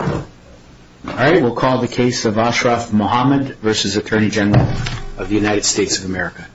All right, we'll call the case of Ashraf Mohamed v. Attorney General of the United States of America. The case of Ashraf Mohamed v. Attorney General of the United States of America.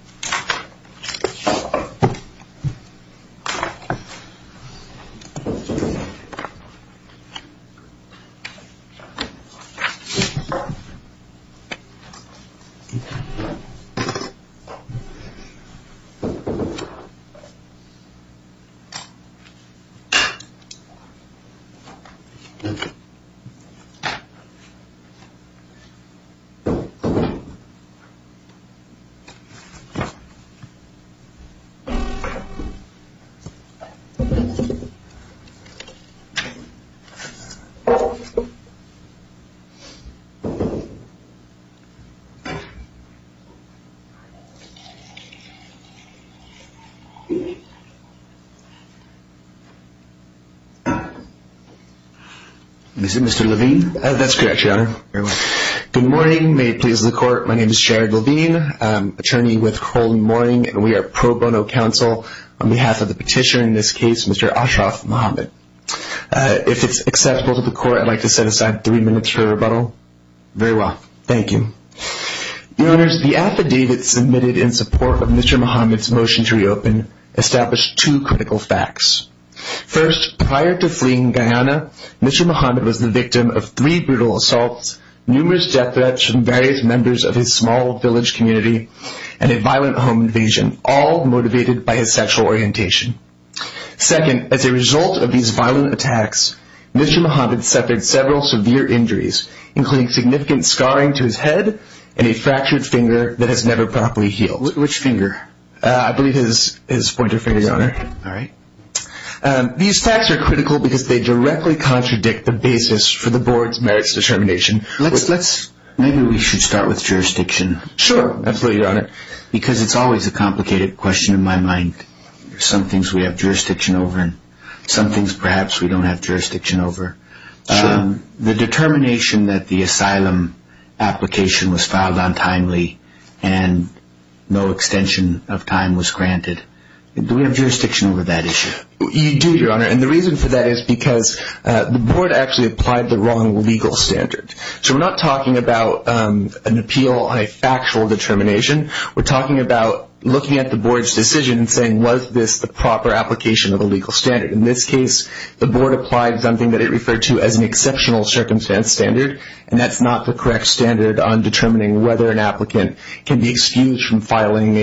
Good morning, may it please the court, my name is Jared Levine, I'm an attorney with Kohl & Moring, and we are pro bono counsel on behalf of the petitioner in this case, Mr. Ashraf Mohamed. If it's acceptable to the court, I'd like to set aside three minutes for rebuttal. Very well, thank you. Your Honors, the affidavit submitted in support of Mr. Mohamed's motion to reopen established two critical facts. First, prior to fleeing Guyana, Mr. Mohamed was the victim of three brutal assaults, numerous death threats from various members of his small village community, and a violent home invasion, all motivated by his sexual orientation. Second, as a result of these violent attacks, Mr. Mohamed suffered several severe injuries, including significant scarring to his head and a fractured finger that has never properly healed. Which finger? I believe his pointer finger, Your Honor. All right. These facts are critical because they directly contradict the basis for the board's merits determination. Maybe we should start with jurisdiction. Sure, absolutely, Your Honor. Because it's always a complicated question in my mind. Some things we have jurisdiction over, and some things perhaps we don't have jurisdiction over. Sure. The determination that the asylum application was filed untimely and no extension of time was granted, do we have jurisdiction over that issue? You do, Your Honor. And the reason for that is because the board actually applied the wrong legal standard. So we're not talking about an appeal on a factual determination. We're talking about looking at the board's decision and saying, was this the proper application of a legal standard? In this case, the board applied something that it referred to as an exceptional circumstance standard, and that's not the correct standard on determining whether an applicant can be excused from filing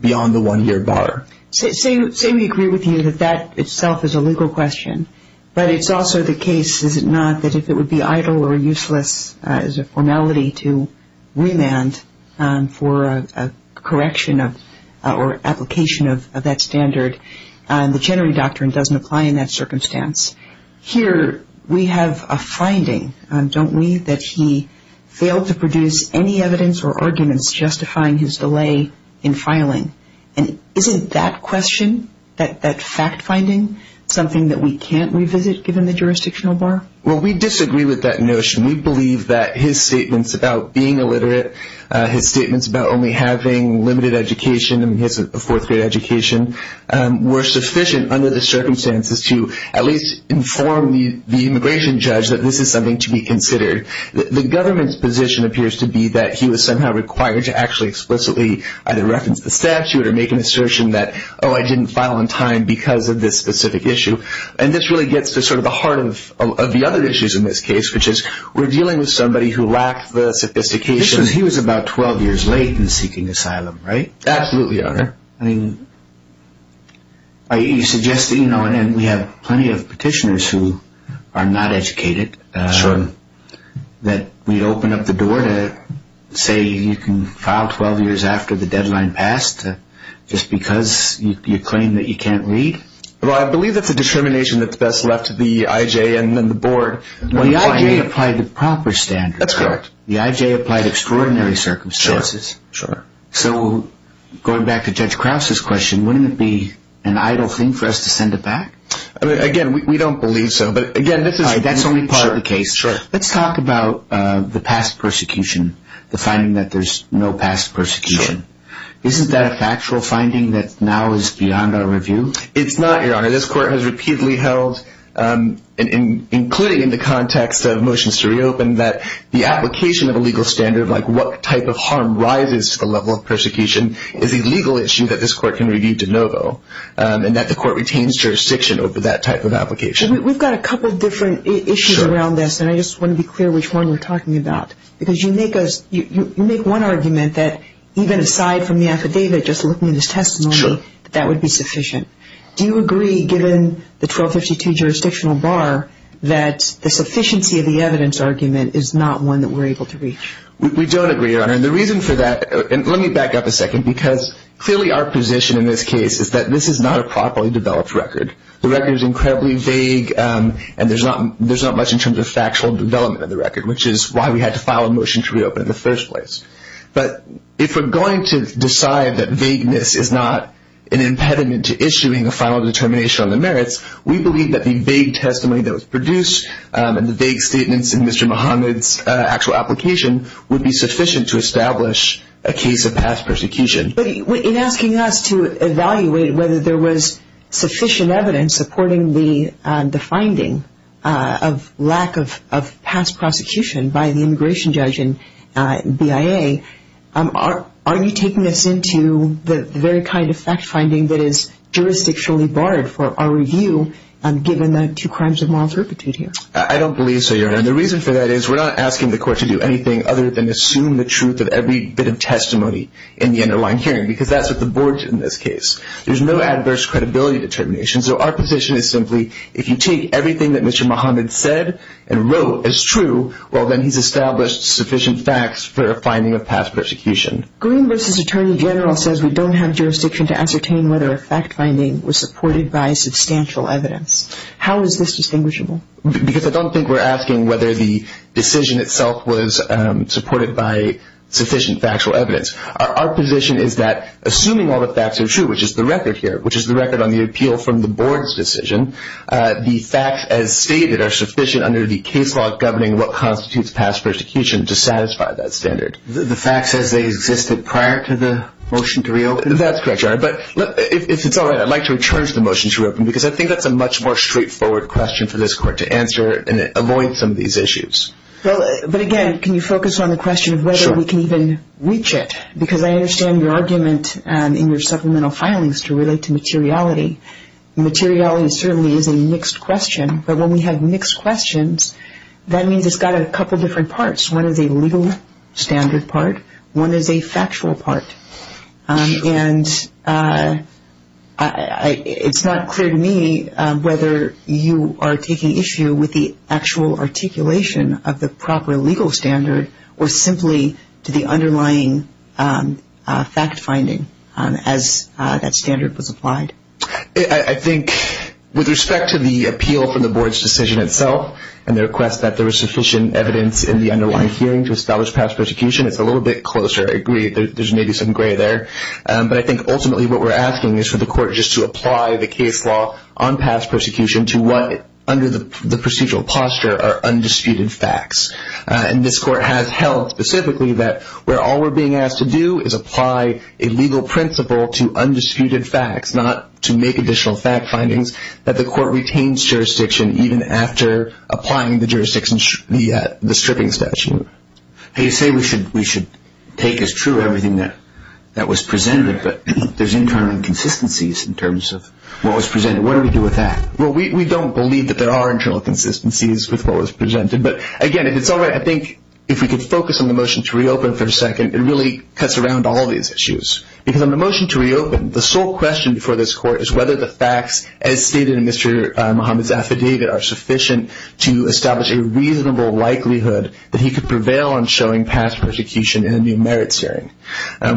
beyond the one-year bar. Say we agree with you that that itself is a legal question, but it's also the case, is it not, that if it would be idle or useless as a formality to remand for a correction or application of that standard, the Chenery Doctrine doesn't apply in that circumstance. Here we have a finding, don't we, that he failed to produce any evidence or arguments justifying his delay in filing. And isn't that question, that fact-finding, something that we can't revisit given the jurisdictional bar? Well, we disagree with that notion. We believe that his statements about being illiterate, his statements about only having limited education, I mean, he has a fourth-grade education, were sufficient under the circumstances to at least inform the immigration judge that this is something to be considered. The government's position appears to be that he was somehow required to actually explicitly either reference the statute or make an assertion that, oh, I didn't file on time because of this specific issue. And this really gets to sort of the heart of the other issues in this case, which is we're dealing with somebody who lacked the sophistication. So he was about 12 years late in seeking asylum, right? Absolutely, Your Honor. I mean, you suggested, you know, and we have plenty of petitioners who are not educated. Sure. That we'd open up the door to say you can file 12 years after the deadline passed just because you claim that you can't read? Well, I believe that's a determination that's best left to the IJ and then the board. Well, the IJ applied the proper standard. That's correct. The IJ applied extraordinary circumstances. Sure, sure. So going back to Judge Krause's question, wouldn't it be an idle thing for us to send it back? Again, we don't believe so. But again, this is... All right, that's only part of the case. Sure, sure. Let's talk about the past persecution, the finding that there's no past persecution. Sure. Isn't that a factual finding that now is beyond our review? It's not, Your Honor. This court has repeatedly held, including in the context of motions to reopen, that the application of a legal standard, like what type of harm rises to the level of persecution, is a legal issue that this court can review de novo, and that the court retains jurisdiction over that type of application. We've got a couple different issues around this, and I just want to be clear which one we're talking about. Because you make one argument that even aside from the affidavit, just looking at his testimony, that that would be sufficient. Sure. Do you agree, given the 1252 jurisdictional bar, that the sufficiency of the evidence argument is not one that we're able to reach? We don't agree, Your Honor. And the reason for that, and let me back up a second, because clearly our position in this case is that this is not a properly developed record. The record is incredibly vague, and there's not much in terms of factual development of the record, which is why we had to file a motion to reopen in the first place. But if we're going to decide that vagueness is not an impediment to issuing a final determination on the merits, we believe that the vague testimony that was produced and the vague statements in Mr. Muhammad's actual application would be sufficient to establish a case of past persecution. But in asking us to evaluate whether there was sufficient evidence supporting the finding of lack of past prosecution by the immigration judge and BIA, are you taking us into the very kind of fact-finding that is jurisdictionally barred for our review, given the two crimes of moral turpitude here? I don't believe so, Your Honor. And the reason for that is we're not asking the court to do anything other than assume the truth of every bit of testimony in the underlying hearing, because that's what the board did in this case. There's no adverse credibility determination. So our position is simply, if you take everything that Mr. Muhammad said and wrote as true, well, then he's established sufficient facts for a finding of past persecution. Green v. Attorney General says we don't have jurisdiction to ascertain whether a fact-finding was supported by substantial evidence. How is this distinguishable? Because I don't think we're asking whether the decision itself was supported by sufficient factual evidence. Our position is that, assuming all the facts are true, which is the record here, which is the record on the appeal from the board's decision, the facts as stated are sufficient under the case law governing what constitutes past persecution to satisfy that standard. The fact says they existed prior to the motion to reopen? That's correct, Your Honor. But if it's all right, I'd like to return to the motion to reopen, because I think that's a much more straightforward question for this court to answer and avoid some of these issues. But, again, can you focus on the question of whether we can even reach it? Because I understand your argument in your supplemental filings to relate to materiality. Materiality certainly is a mixed question. But when we have mixed questions, that means it's got a couple different parts. One is a legal standard part. One is a factual part. And it's not clear to me whether you are taking issue with the actual articulation of the proper legal standard or simply to the underlying fact-finding as that standard was applied. I think with respect to the appeal from the board's decision itself and the request that there is sufficient evidence in the underlying hearing to establish past persecution, it's a little bit closer. I agree. There's maybe some gray there. But I think ultimately what we're asking is for the court just to apply the case law on past persecution to what under the procedural posture are undisputed facts. And this court has held specifically that where all we're being asked to do is apply a legal principle to undisputed facts, not to make additional fact findings, that the court retains jurisdiction even after applying the jurisdiction, the stripping statute. You say we should take as true everything that was presented, but there's internal inconsistencies in terms of what was presented. What do we do with that? Well, we don't believe that there are internal inconsistencies with what was presented. But, again, if it's all right, I think if we could focus on the motion to reopen for a second, it really cuts around all these issues. Because on the motion to reopen, the sole question before this court is whether the facts, as stated in Mr. Muhammad's affidavit, are sufficient to establish a reasonable likelihood that he could prevail on showing past persecution in a new merits hearing.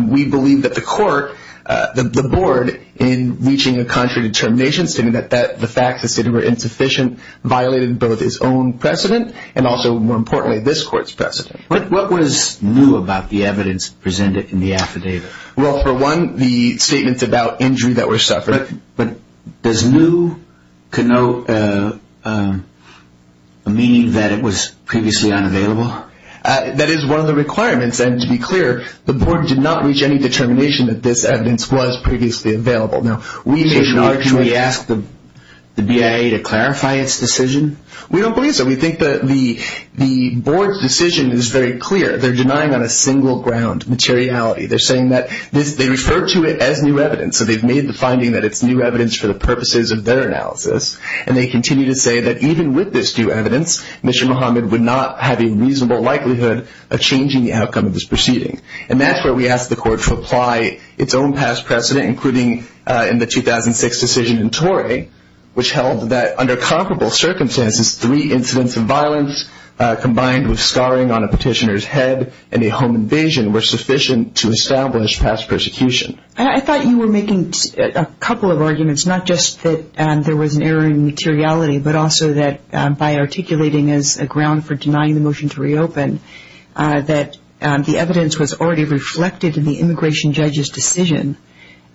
We believe that the court, the board, in reaching a contrary determination, stating that the facts as stated were insufficient, violated both his own precedent and also, more importantly, this court's precedent. What was new about the evidence presented in the affidavit? Well, for one, the statements about injury that were suffered. But does new connote a meaning that it was previously unavailable? That is one of the requirements. And to be clear, the board did not reach any determination that this evidence was previously available. So should we ask the BIA to clarify its decision? We don't believe so. We think that the board's decision is very clear. They're denying on a single ground materiality. They're saying that they refer to it as new evidence. So they've made the finding that it's new evidence for the purposes of their analysis. And they continue to say that even with this new evidence, Mr. Muhammad would not have a reasonable likelihood of changing the outcome of this proceeding. And that's where we ask the court to apply its own past precedent, including in the 2006 decision in Tory, which held that under comparable circumstances, three incidents of violence combined with scarring on a petitioner's head and a home invasion were sufficient to establish past persecution. I thought you were making a couple of arguments, not just that there was an error in materiality, but also that by articulating as a ground for denying the motion to reopen, that the evidence was already reflected in the immigration judge's decision,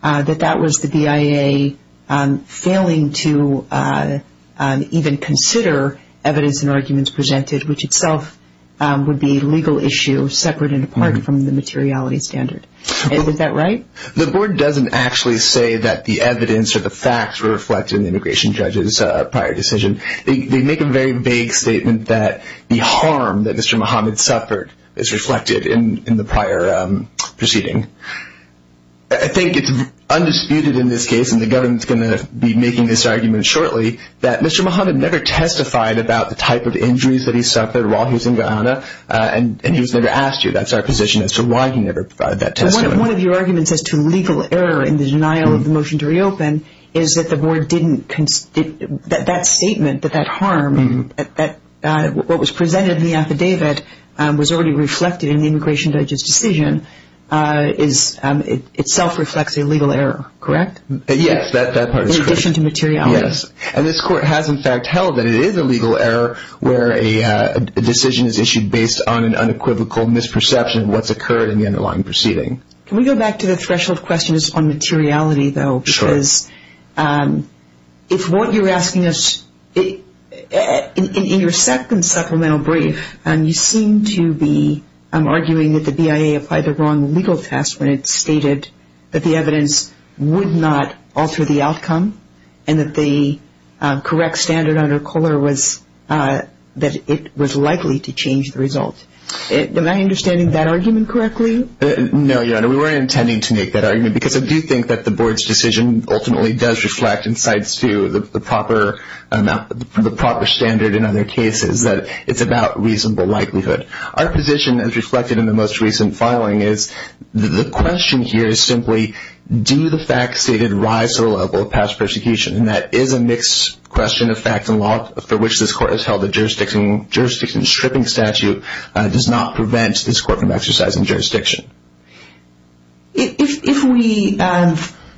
that that was the BIA failing to even consider evidence and arguments presented, which itself would be a legal issue separate and apart from the materiality standard. Is that right? The board doesn't actually say that the evidence or the facts were reflected in the immigration judge's prior decision. They make a very vague statement that the harm that Mr. Muhammad suffered is reflected in the prior proceeding. I think it's undisputed in this case, and the government's going to be making this argument shortly, that Mr. Muhammad never testified about the type of injuries that he suffered while he was in Guyana, and he was never asked to. That's our position as to why he never provided that testimony. One of your arguments as to legal error in the denial of the motion to reopen is that the board didn't – that statement that that harm, what was presented in the affidavit, was already reflected in the immigration judge's decision itself reflects a legal error, correct? Yes, that part is correct. In addition to materiality. Yes. And this court has, in fact, held that it is a legal error where a decision is issued based on an unequivocal misperception of what's occurred in the underlying proceeding. Can we go back to the threshold questions on materiality, though? Sure. Because if what you're asking us – in your second supplemental brief, you seem to be arguing that the BIA applied the wrong legal test when it stated that the evidence would not alter the outcome and that the correct standard under Kohler was that it was likely to change the result. Am I understanding that argument correctly? No, Your Honor. We weren't intending to make that argument because I do think that the board's decision ultimately does reflect and cites to the proper standard in other cases that it's about reasonable likelihood. Our position, as reflected in the most recent filing, is the question here is simply, do the facts stated rise to the level of past persecution? And that is a mixed question of facts and law for which this court has held the jurisdiction stripping statute does not prevent this court from exercising jurisdiction. If we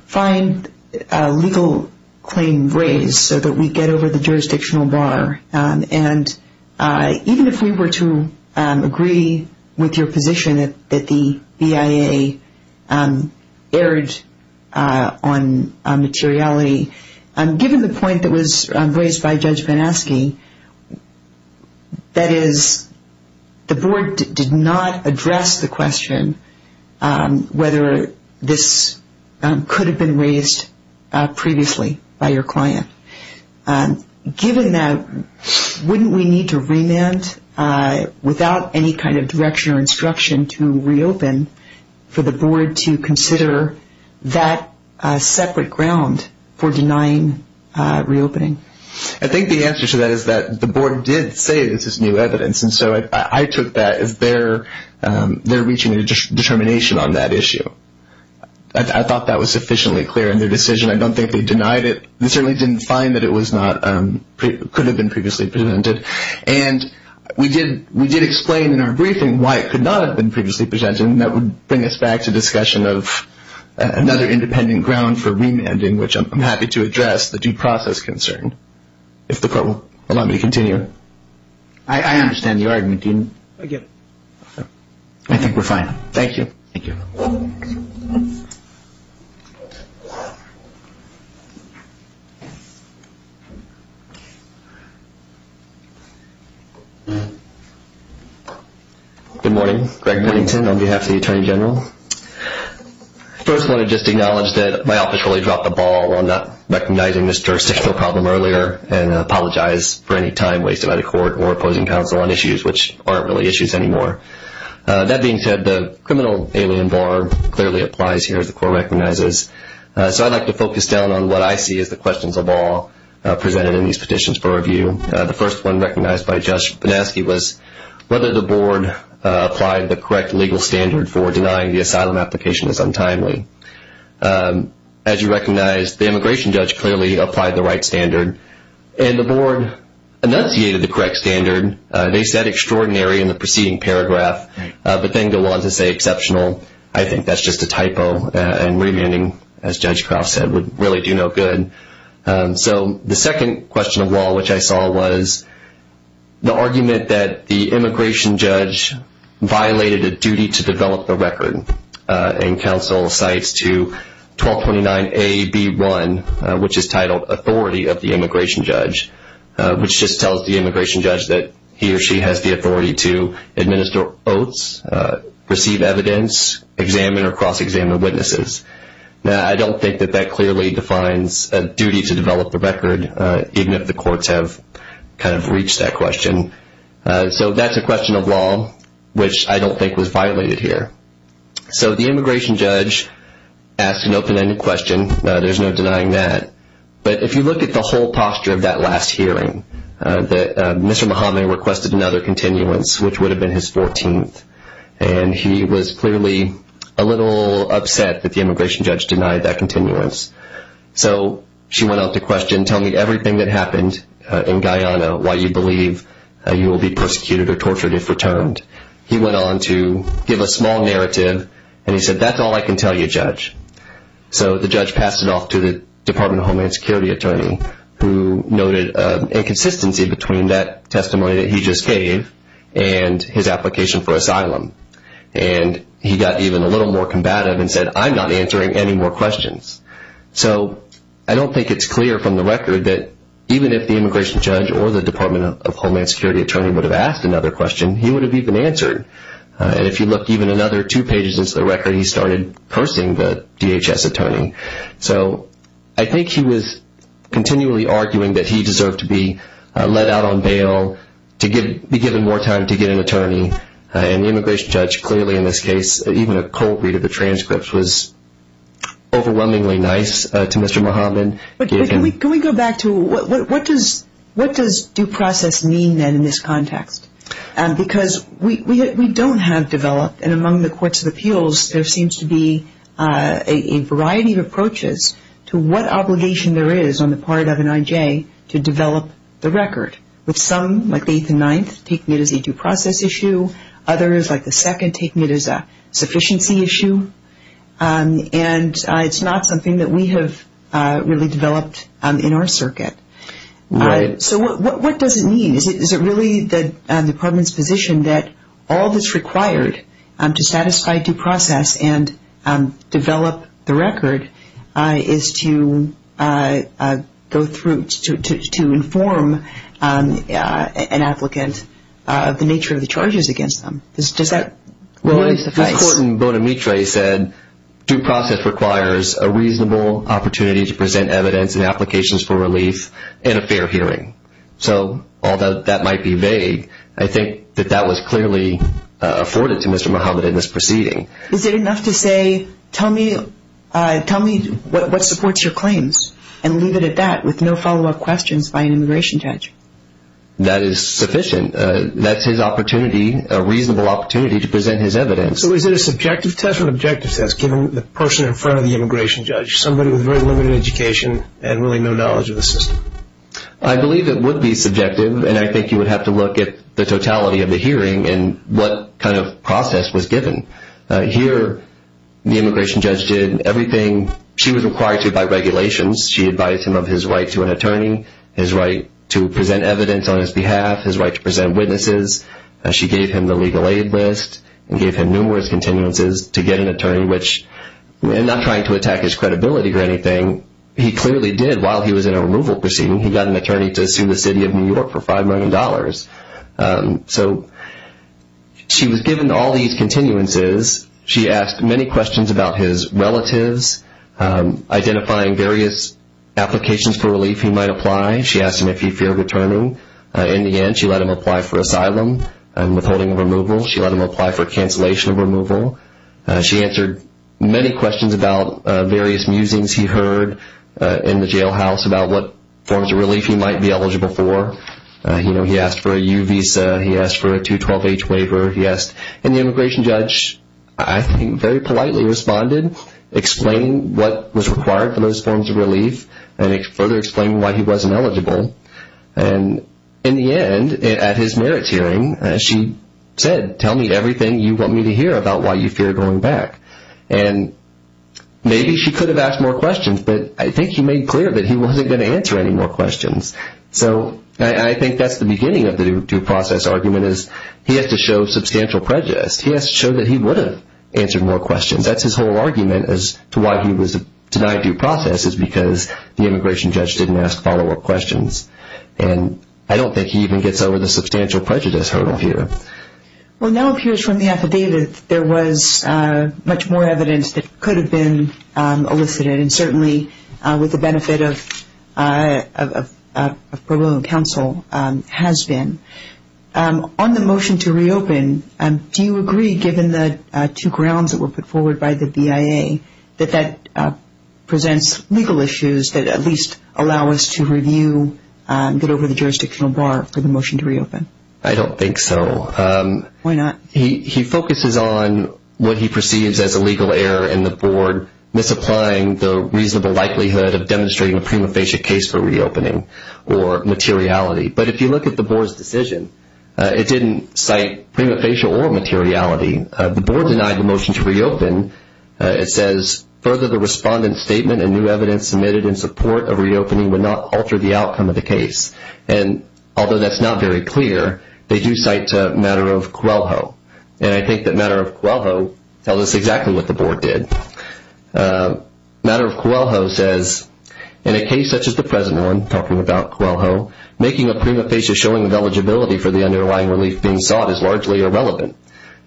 find a legal claim raised so that we get over the jurisdictional bar, and even if we were to agree with your position that the BIA erred on materiality, given the point that was raised by Judge Van Aske, that is, the board did not address the question whether this could have been raised previously by your client. Given that, wouldn't we need to remand without any kind of direction or instruction to reopen for the board to consider that separate ground for denying reopening? I think the answer to that is that the board did say this is new evidence, and so I took that as their reaching a determination on that issue. I thought that was sufficiently clear in their decision. I don't think they denied it. They certainly didn't find that it could have been previously presented. And we did explain in our briefing why it could not have been previously presented, and that would bring us back to discussion of another independent ground for remanding, which I'm happy to address, the due process concern, if the court will allow me to continue. I understand the argument. I think we're fine. Thank you. Thank you. Good morning. Greg Bennington on behalf of the Attorney General. First, I want to just acknowledge that my office really dropped the ball on not recognizing this jurisdictional problem earlier and apologize for any time wasted by the court or opposing counsel on issues which aren't really issues anymore. That being said, the criminal alien bar clearly applies here, as the court recognizes. So I'd like to focus down on what I see as the questions of all presented in these petitions for review. The first one recognized by Judge Banaski was whether the board applied the correct legal standard for denying the asylum application as untimely. As you recognize, the immigration judge clearly applied the right standard, and the board enunciated the correct standard. They said extraordinary in the preceding paragraph, but then go on to say exceptional. I think that's just a typo, and remanding, as Judge Krafft said, would really do no good. So the second question of all which I saw was the argument that the immigration judge violated a duty to develop the record and counsel cites to 1229AB1, which is titled Authority of the Immigration Judge, which just tells the immigration judge that he or she has the authority to administer oaths, receive evidence, examine or cross-examine witnesses. Now, I don't think that that clearly defines a duty to develop the record, even if the courts have kind of reached that question. So that's a question of law which I don't think was violated here. So the immigration judge asked an open-ended question. There's no denying that. But if you look at the whole posture of that last hearing, Mr. Muhammad requested another continuance, which would have been his 14th, and he was clearly a little upset that the immigration judge denied that continuance. So she went on to question, tell me everything that happened in Guyana, why you believe you will be persecuted or tortured if returned. He went on to give a small narrative, and he said, that's all I can tell you, Judge. So the judge passed it off to the Department of Homeland Security attorney, who noted inconsistency between that testimony that he just gave and his application for asylum. And he got even a little more combative and said, I'm not answering any more questions. So I don't think it's clear from the record that even if the immigration judge or the Department of Homeland Security attorney would have asked another question, he would have even answered. And if you look even another two pages into the record, he started cursing the DHS attorney. So I think he was continually arguing that he deserved to be let out on bail, to be given more time to get an attorney. And the immigration judge clearly in this case, even a cold read of the transcripts, was overwhelmingly nice to Mr. Muhammad. Can we go back to what does due process mean then in this context? Because we don't have developed, and among the courts of appeals, there seems to be a variety of approaches to what obligation there is on the part of an I.J. to develop the record, with some, like the 8th and 9th, taking it as a due process issue. Others, like the 2nd, taking it as a sufficiency issue. And it's not something that we have really developed in our circuit. So what does it mean? Is it really the department's position that all that's required to satisfy due process and develop the record is to go through, to inform an applicant of the nature of the charges against them? Does that really suffice? Well, as the court in Bonamitre said, due process requires a reasonable opportunity to present evidence and applications for relief in a fair hearing. So although that might be vague, I think that that was clearly afforded to Mr. Muhammad in this proceeding. Is it enough to say, tell me what supports your claims, and leave it at that with no follow-up questions by an immigration judge? That is sufficient. That's his opportunity, a reasonable opportunity to present his evidence. So is it a subjective test or an objective test given the person in front of the immigration judge, somebody with very limited education and really no knowledge of the system? I believe it would be subjective, and I think you would have to look at the totality of the hearing and what kind of process was given. Here, the immigration judge did everything she was required to by regulations. She advised him of his right to an attorney, his right to present evidence on his behalf, his right to present witnesses. She gave him the legal aid list and gave him numerous continuances to get an attorney, not trying to attack his credibility or anything. He clearly did while he was in a removal proceeding. He got an attorney to sue the city of New York for $5 million. So she was given all these continuances. She asked many questions about his relatives, identifying various applications for relief he might apply. She asked him if he feared returning. In the end, she let him apply for asylum and withholding of removal. She let him apply for cancellation of removal. She answered many questions about various musings he heard in the jailhouse about what forms of relief he might be eligible for. He asked for a U visa. He asked for a 212H waiver. And the immigration judge, I think, very politely responded, explaining what was required for those forms of relief and further explaining why he wasn't eligible. And in the end, at his merits hearing, she said, tell me everything you want me to hear about why you fear going back. And maybe she could have asked more questions, but I think he made clear that he wasn't going to answer any more questions. So I think that's the beginning of the due process argument is he has to show substantial prejudice. He has to show that he would have answered more questions. That's his whole argument as to why he was denied due process is because the immigration judge didn't ask follow-up questions. And I don't think he even gets over the substantial prejudice hurdle here. Well, now it appears from the affidavit there was much more evidence that could have been elicited, and certainly with the benefit of pro bono counsel has been. On the motion to reopen, do you agree, given the two grounds that were put forward by the BIA, that that presents legal issues that at least allow us to review, get over the jurisdictional bar for the motion to reopen? I don't think so. Why not? He focuses on what he perceives as a legal error in the board, misapplying the reasonable likelihood of demonstrating a prima facie case for reopening or materiality. But if you look at the board's decision, it didn't cite prima facie or materiality. The board denied the motion to reopen. It says further the respondent's statement and new evidence submitted in support of reopening would not alter the outcome of the case. And although that's not very clear, they do cite Matter of Coelho. And I think that Matter of Coelho tells us exactly what the board did. Matter of Coelho says, in a case such as the present one, talking about Coelho, making a prima facie showing of eligibility for the underlying relief being sought is largely irrelevant.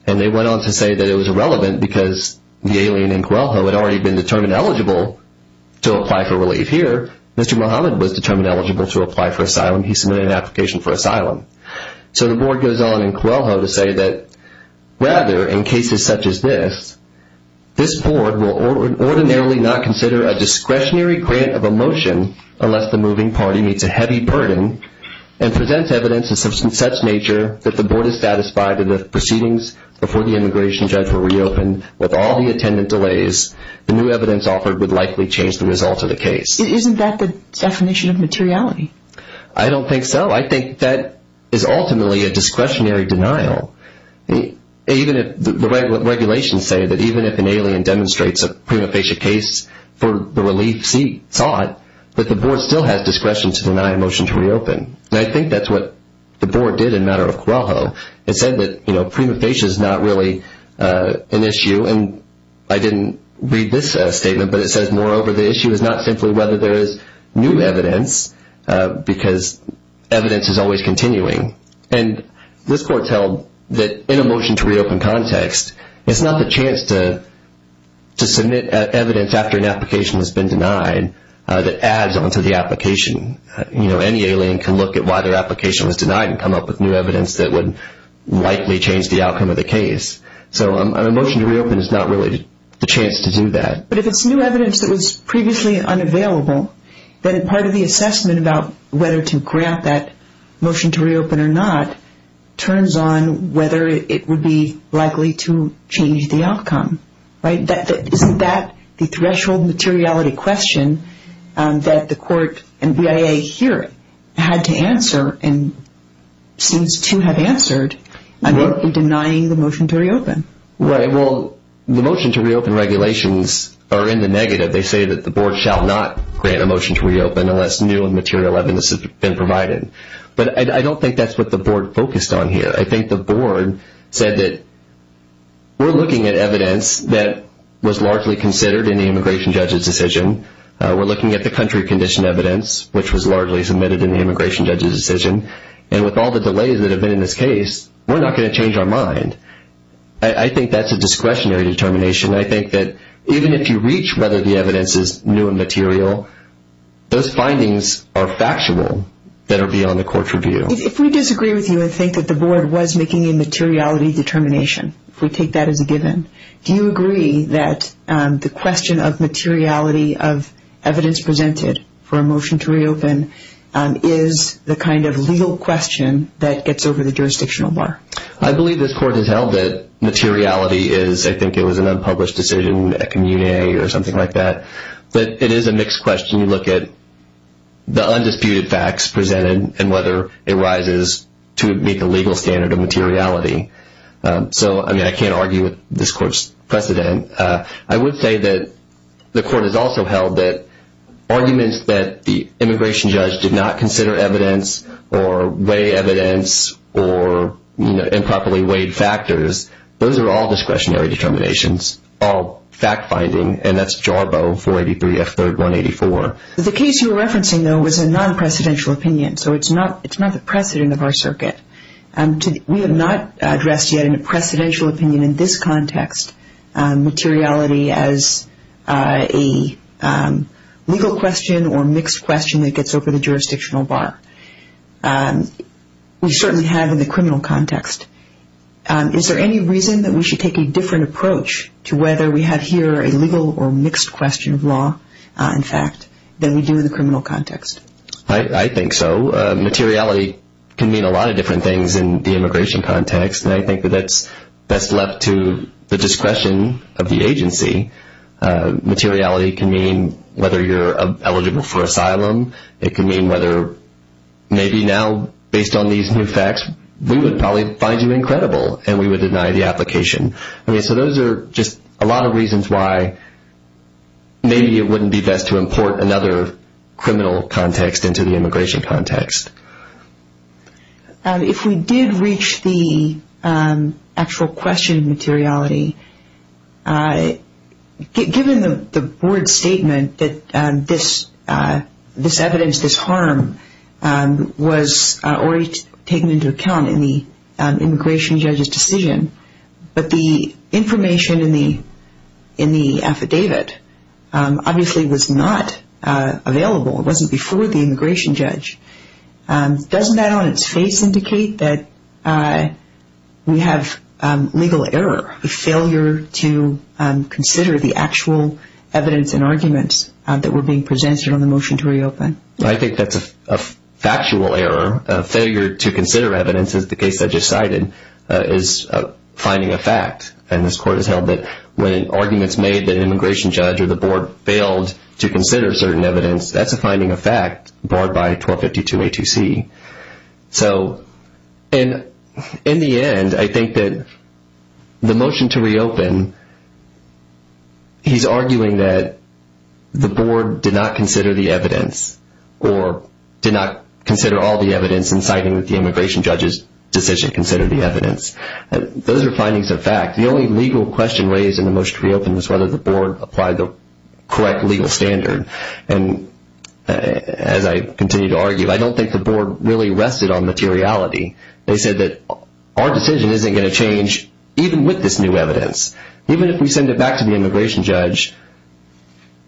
And they went on to say that it was irrelevant because the alien in Coelho had already been determined eligible to apply for relief. Here, Mr. Muhammad was determined eligible to apply for asylum. He submitted an application for asylum. So the board goes on in Coelho to say that rather, in cases such as this, this board will ordinarily not consider a discretionary grant of a motion unless the moving party meets a heavy burden and presents evidence of such nature that the board is satisfied that the proceedings before the immigration judge were reopened with all the attendant delays, the new evidence offered would likely change the result of the case. Isn't that the definition of materiality? I don't think so. I think that is ultimately a discretionary denial. The regulations say that even if an alien demonstrates a prima facie case for the relief sought, that the board still has discretion to deny a motion to reopen. And I think that's what the board did in Matter of Coelho. It said that prima facie is not really an issue. And I didn't read this statement, but it says, moreover, the issue is not simply whether there is new evidence because evidence is always continuing. And this court held that in a motion to reopen context, it's not the chance to submit evidence after an application has been denied that adds onto the application. Any alien can look at why their application was denied and come up with new evidence that would likely change the outcome of the case. So a motion to reopen is not really the chance to do that. But if it's new evidence that was previously unavailable, then part of the assessment about whether to grant that motion to reopen or not Isn't that the threshold materiality question that the court and BIA here had to answer and seems to have answered in denying the motion to reopen? Well, the motion to reopen regulations are in the negative. They say that the board shall not grant a motion to reopen unless new and material evidence has been provided. But I don't think that's what the board focused on here. I think the board said that we're looking at evidence that was largely considered in the immigration judge's decision. We're looking at the country condition evidence, which was largely submitted in the immigration judge's decision. And with all the delays that have been in this case, we're not going to change our mind. I think that's a discretionary determination. I think that even if you reach whether the evidence is new and material, those findings are factual that are beyond the court's review. If we disagree with you and think that the board was making a materiality determination, if we take that as a given, do you agree that the question of materiality of evidence presented for a motion to reopen is the kind of legal question that gets over the jurisdictional bar? I believe this court has held that materiality is, I think it was an unpublished decision, a commune or something like that. But it is a mixed question. When you look at the undisputed facts presented and whether it rises to meet the legal standard of materiality. So, I mean, I can't argue with this court's precedent. I would say that the court has also held that arguments that the immigration judge did not consider evidence or weigh evidence or improperly weighed factors, those are all discretionary determinations, all fact-finding, and that's Jarboe 483 F. 3rd 184. The case you were referencing, though, was a non-precedential opinion, so it's not the precedent of our circuit. We have not addressed yet in a precedential opinion in this context materiality as a legal question or mixed question that gets over the jurisdictional bar. We certainly have in the criminal context. Is there any reason that we should take a different approach to whether we have here a legal or mixed question of law, in fact, than we do in the criminal context? I think so. Materiality can mean a lot of different things in the immigration context, and I think that that's left to the discretion of the agency. Materiality can mean whether you're eligible for asylum. It can mean whether maybe now, based on these new facts, we would probably find you incredible and we would deny the application. So those are just a lot of reasons why maybe it wouldn't be best to import another criminal context into the immigration context. If we did reach the actual question of materiality, given the board's statement that this evidence, this harm was already taken into account in the immigration judge's decision, but the information in the affidavit obviously was not available. It wasn't before the immigration judge. Doesn't that on its face indicate that we have legal error, a failure to consider the actual evidence and arguments that were being presented on the motion to reopen? I think that's a factual error. A failure to consider evidence, as the case I just cited, is finding a fact. And this Court has held that when arguments made that an immigration judge or the board failed to consider certain evidence, that's a finding of fact barred by 1252A2C. So in the end, I think that the motion to reopen, he's arguing that the board did not consider the evidence or did not consider all the evidence in citing that the immigration judge's decision considered the evidence. Those are findings of fact. The only legal question raised in the motion to reopen was whether the board applied the correct legal standard. And as I continue to argue, I don't think the board really rested on materiality. They said that our decision isn't going to change even with this new evidence. Even if we send it back to the immigration judge,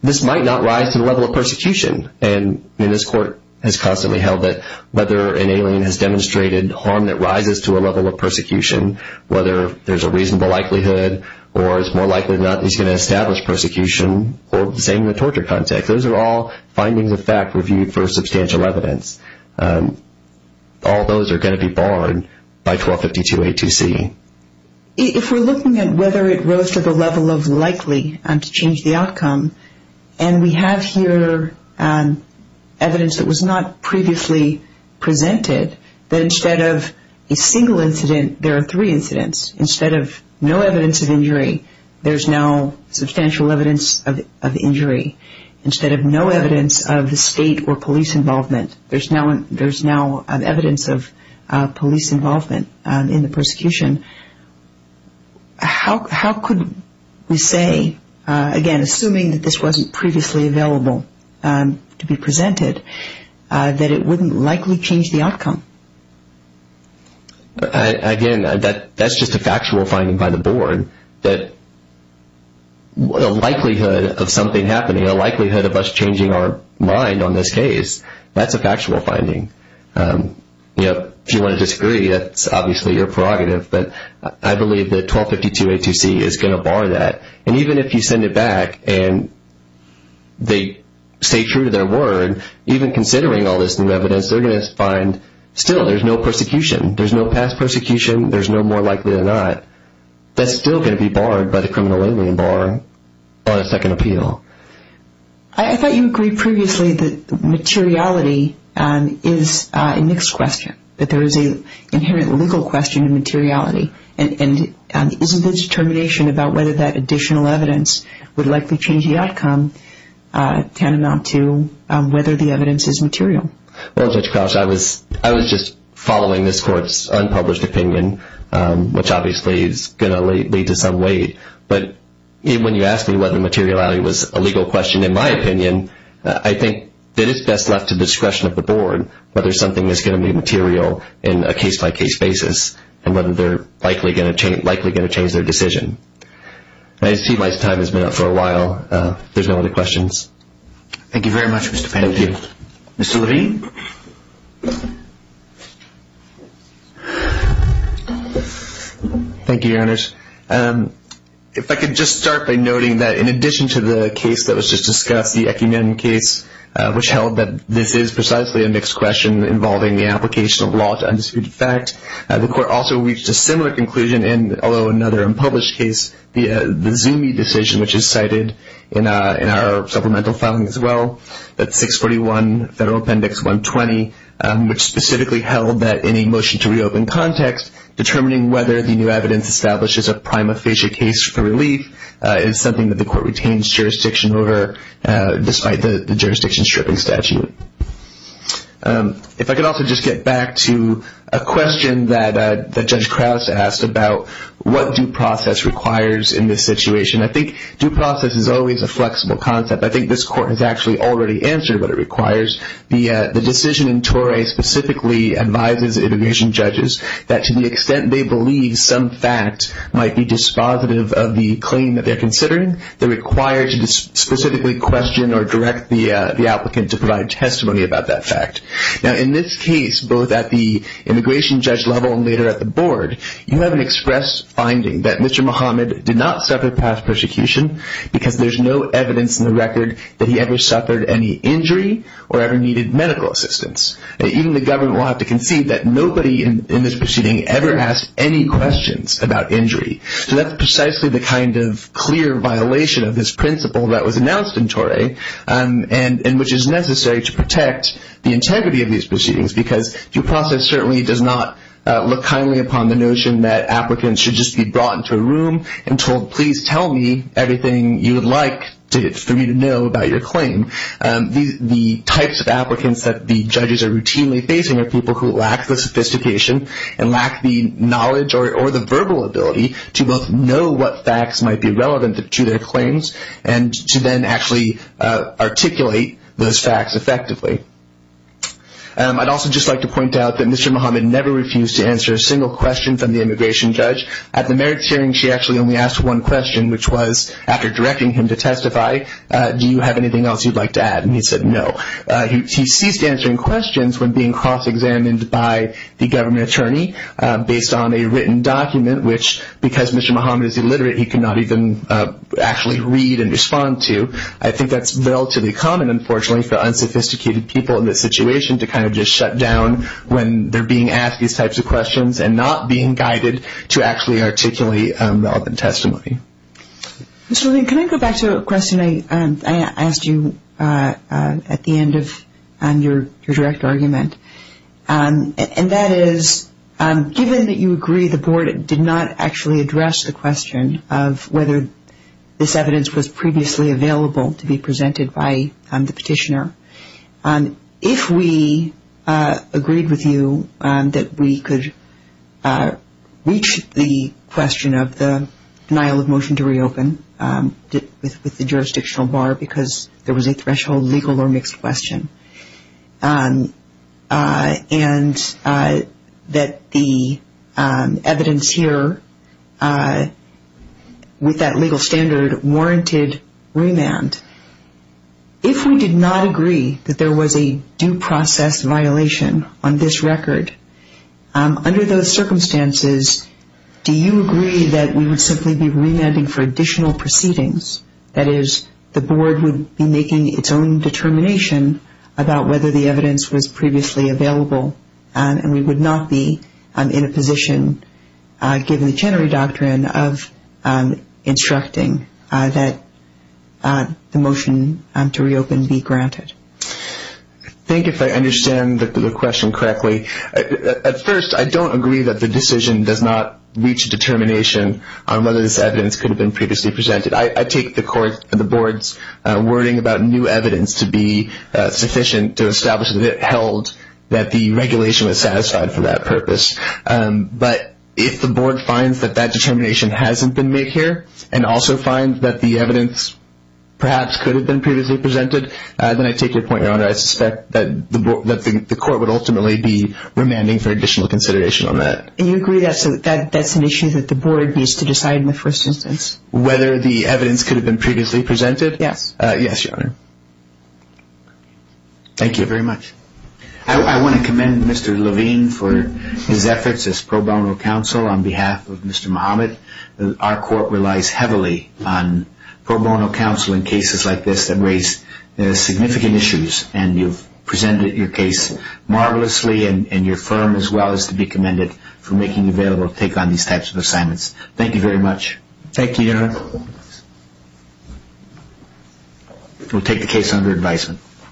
this might not rise to the level of persecution. And this Court has constantly held that whether an alien has demonstrated harm that rises to a level of persecution, whether there's a reasonable likelihood or it's more likely than not that he's going to establish persecution, or the same in the torture context. Those are all findings of fact reviewed for substantial evidence. All those are going to be barred by 1252A2C. If we're looking at whether it rose to the level of likely to change the outcome, and we have here evidence that was not previously presented, that instead of a single incident, there are three incidents. Instead of no evidence of injury, there's now substantial evidence of injury. Instead of no evidence of the state or police involvement, there's now evidence of police involvement in the persecution. How could we say, again, assuming that this wasn't previously available to be presented, that it wouldn't likely change the outcome? Again, that's just a factual finding by the Board. A likelihood of something happening, a likelihood of us changing our mind on this case, that's a factual finding. If you want to disagree, that's obviously your prerogative. But I believe that 1252A2C is going to bar that. And even if you send it back and they stay true to their word, even considering all this new evidence, they're going to find still there's no persecution. There's no past persecution. There's no more likely than not. That's still going to be barred by the criminal alien bar on a second appeal. I thought you agreed previously that materiality is a mixed question, that there is an inherent legal question of materiality. And isn't the determination about whether that additional evidence would likely change the outcome tantamount to whether the evidence is material? Well, Judge Crouch, I was just following this Court's unpublished opinion, which obviously is going to lead to some weight. But when you asked me whether materiality was a legal question, in my opinion, I think that it's best left to the discretion of the Board whether something is going to be material in a case-by-case basis and whether they're likely going to change their decision. I see my time has been up for a while. If there's no other questions. Thank you very much, Mr. Pan. Thank you. Mr. Green? Thank you, Your Honors. If I could just start by noting that in addition to the case that was just discussed, the Ekiman case, which held that this is precisely a mixed question involving the application of law to undisputed fact, the Court also reached a similar conclusion in, although another unpublished case, the Zumi decision, which is cited in our supplemental filing as well, that 641 Federal Appendix 120, which specifically held that in a motion to reopen context, determining whether the new evidence establishes a prima facie case for relief is something that the Court retains jurisdiction over despite the jurisdiction stripping statute. If I could also just get back to a question that Judge Crouch asked about what due process requires in this situation, I think due process is always a flexible concept. I think this Court has actually already answered what it requires. The decision in Torrey specifically advises immigration judges that to the extent they believe some fact might be dispositive of the claim that they're considering, they're required to specifically question or direct the applicant to provide testimony about that fact. Now, in this case, both at the immigration judge level and later at the Board, you have an express finding that Mr. Muhammad did not suffer past persecution because there's no evidence in the record that he ever suffered any injury or ever needed medical assistance. Even the government will have to concede that nobody in this proceeding ever asked any questions about injury. So that's precisely the kind of clear violation of this principle that was announced in Torrey and which is necessary to protect the integrity of these proceedings because due process certainly does not look kindly upon the notion that applicants should just be brought into a room and told, please tell me everything you would like for me to know about your claim. The types of applicants that the judges are routinely facing are people who lack the sophistication and lack the knowledge or the verbal ability to both know what facts might be relevant to their claims and to then actually articulate those facts effectively. I'd also just like to point out that Mr. Muhammad never refused to answer a single question from the immigration judge. At the merits hearing, she actually only asked one question, which was, after directing him to testify, do you have anything else you'd like to add? And he said no. He ceased answering questions when being cross-examined by the government attorney based on a written document, which because Mr. Muhammad is illiterate, he could not even actually read and respond to. I think that's relatively common, unfortunately, for unsophisticated people in this situation, to kind of just shut down when they're being asked these types of questions and not being guided to actually articulate the open testimony. Ms. Rubin, can I go back to a question I asked you at the end of your direct argument? And that is, given that you agree the board did not actually address the question of whether this evidence was previously available, to be presented by the petitioner, if we agreed with you that we could reach the question of the denial of motion to reopen with the jurisdictional bar because there was a threshold, legal or mixed question, and that the evidence here with that legal standard warranted remand, if we did not agree that there was a due process violation on this record, under those circumstances, do you agree that we would simply be remanding for additional proceedings? That is, the board would be making its own determination about whether the evidence was previously available and we would not be in a position, given the Chenery Doctrine, of instructing that the motion to reopen be granted. I think if I understand the question correctly, at first I don't agree that the decision does not reach a determination on whether this evidence could have been previously presented. I take the board's wording about new evidence to be sufficient to establish that it held that the regulation was satisfied for that purpose. But if the board finds that that determination hasn't been made here, and also finds that the evidence perhaps could have been previously presented, then I take your point, Your Honor, I suspect that the court would ultimately be remanding for additional consideration on that. You agree that that's an issue that the board needs to decide in the first instance? Whether the evidence could have been previously presented? Yes. Yes, Your Honor. Thank you very much. I want to commend Mr. Levine for his efforts as pro bono counsel on behalf of Mr. Muhammad. Our court relies heavily on pro bono counsel in cases like this that raise significant issues, and you've presented your case marvelously, and your firm as well is to be commended for making available to take on these types of assignments. Thank you very much. Thank you, Your Honor. We'll take the case under advisement.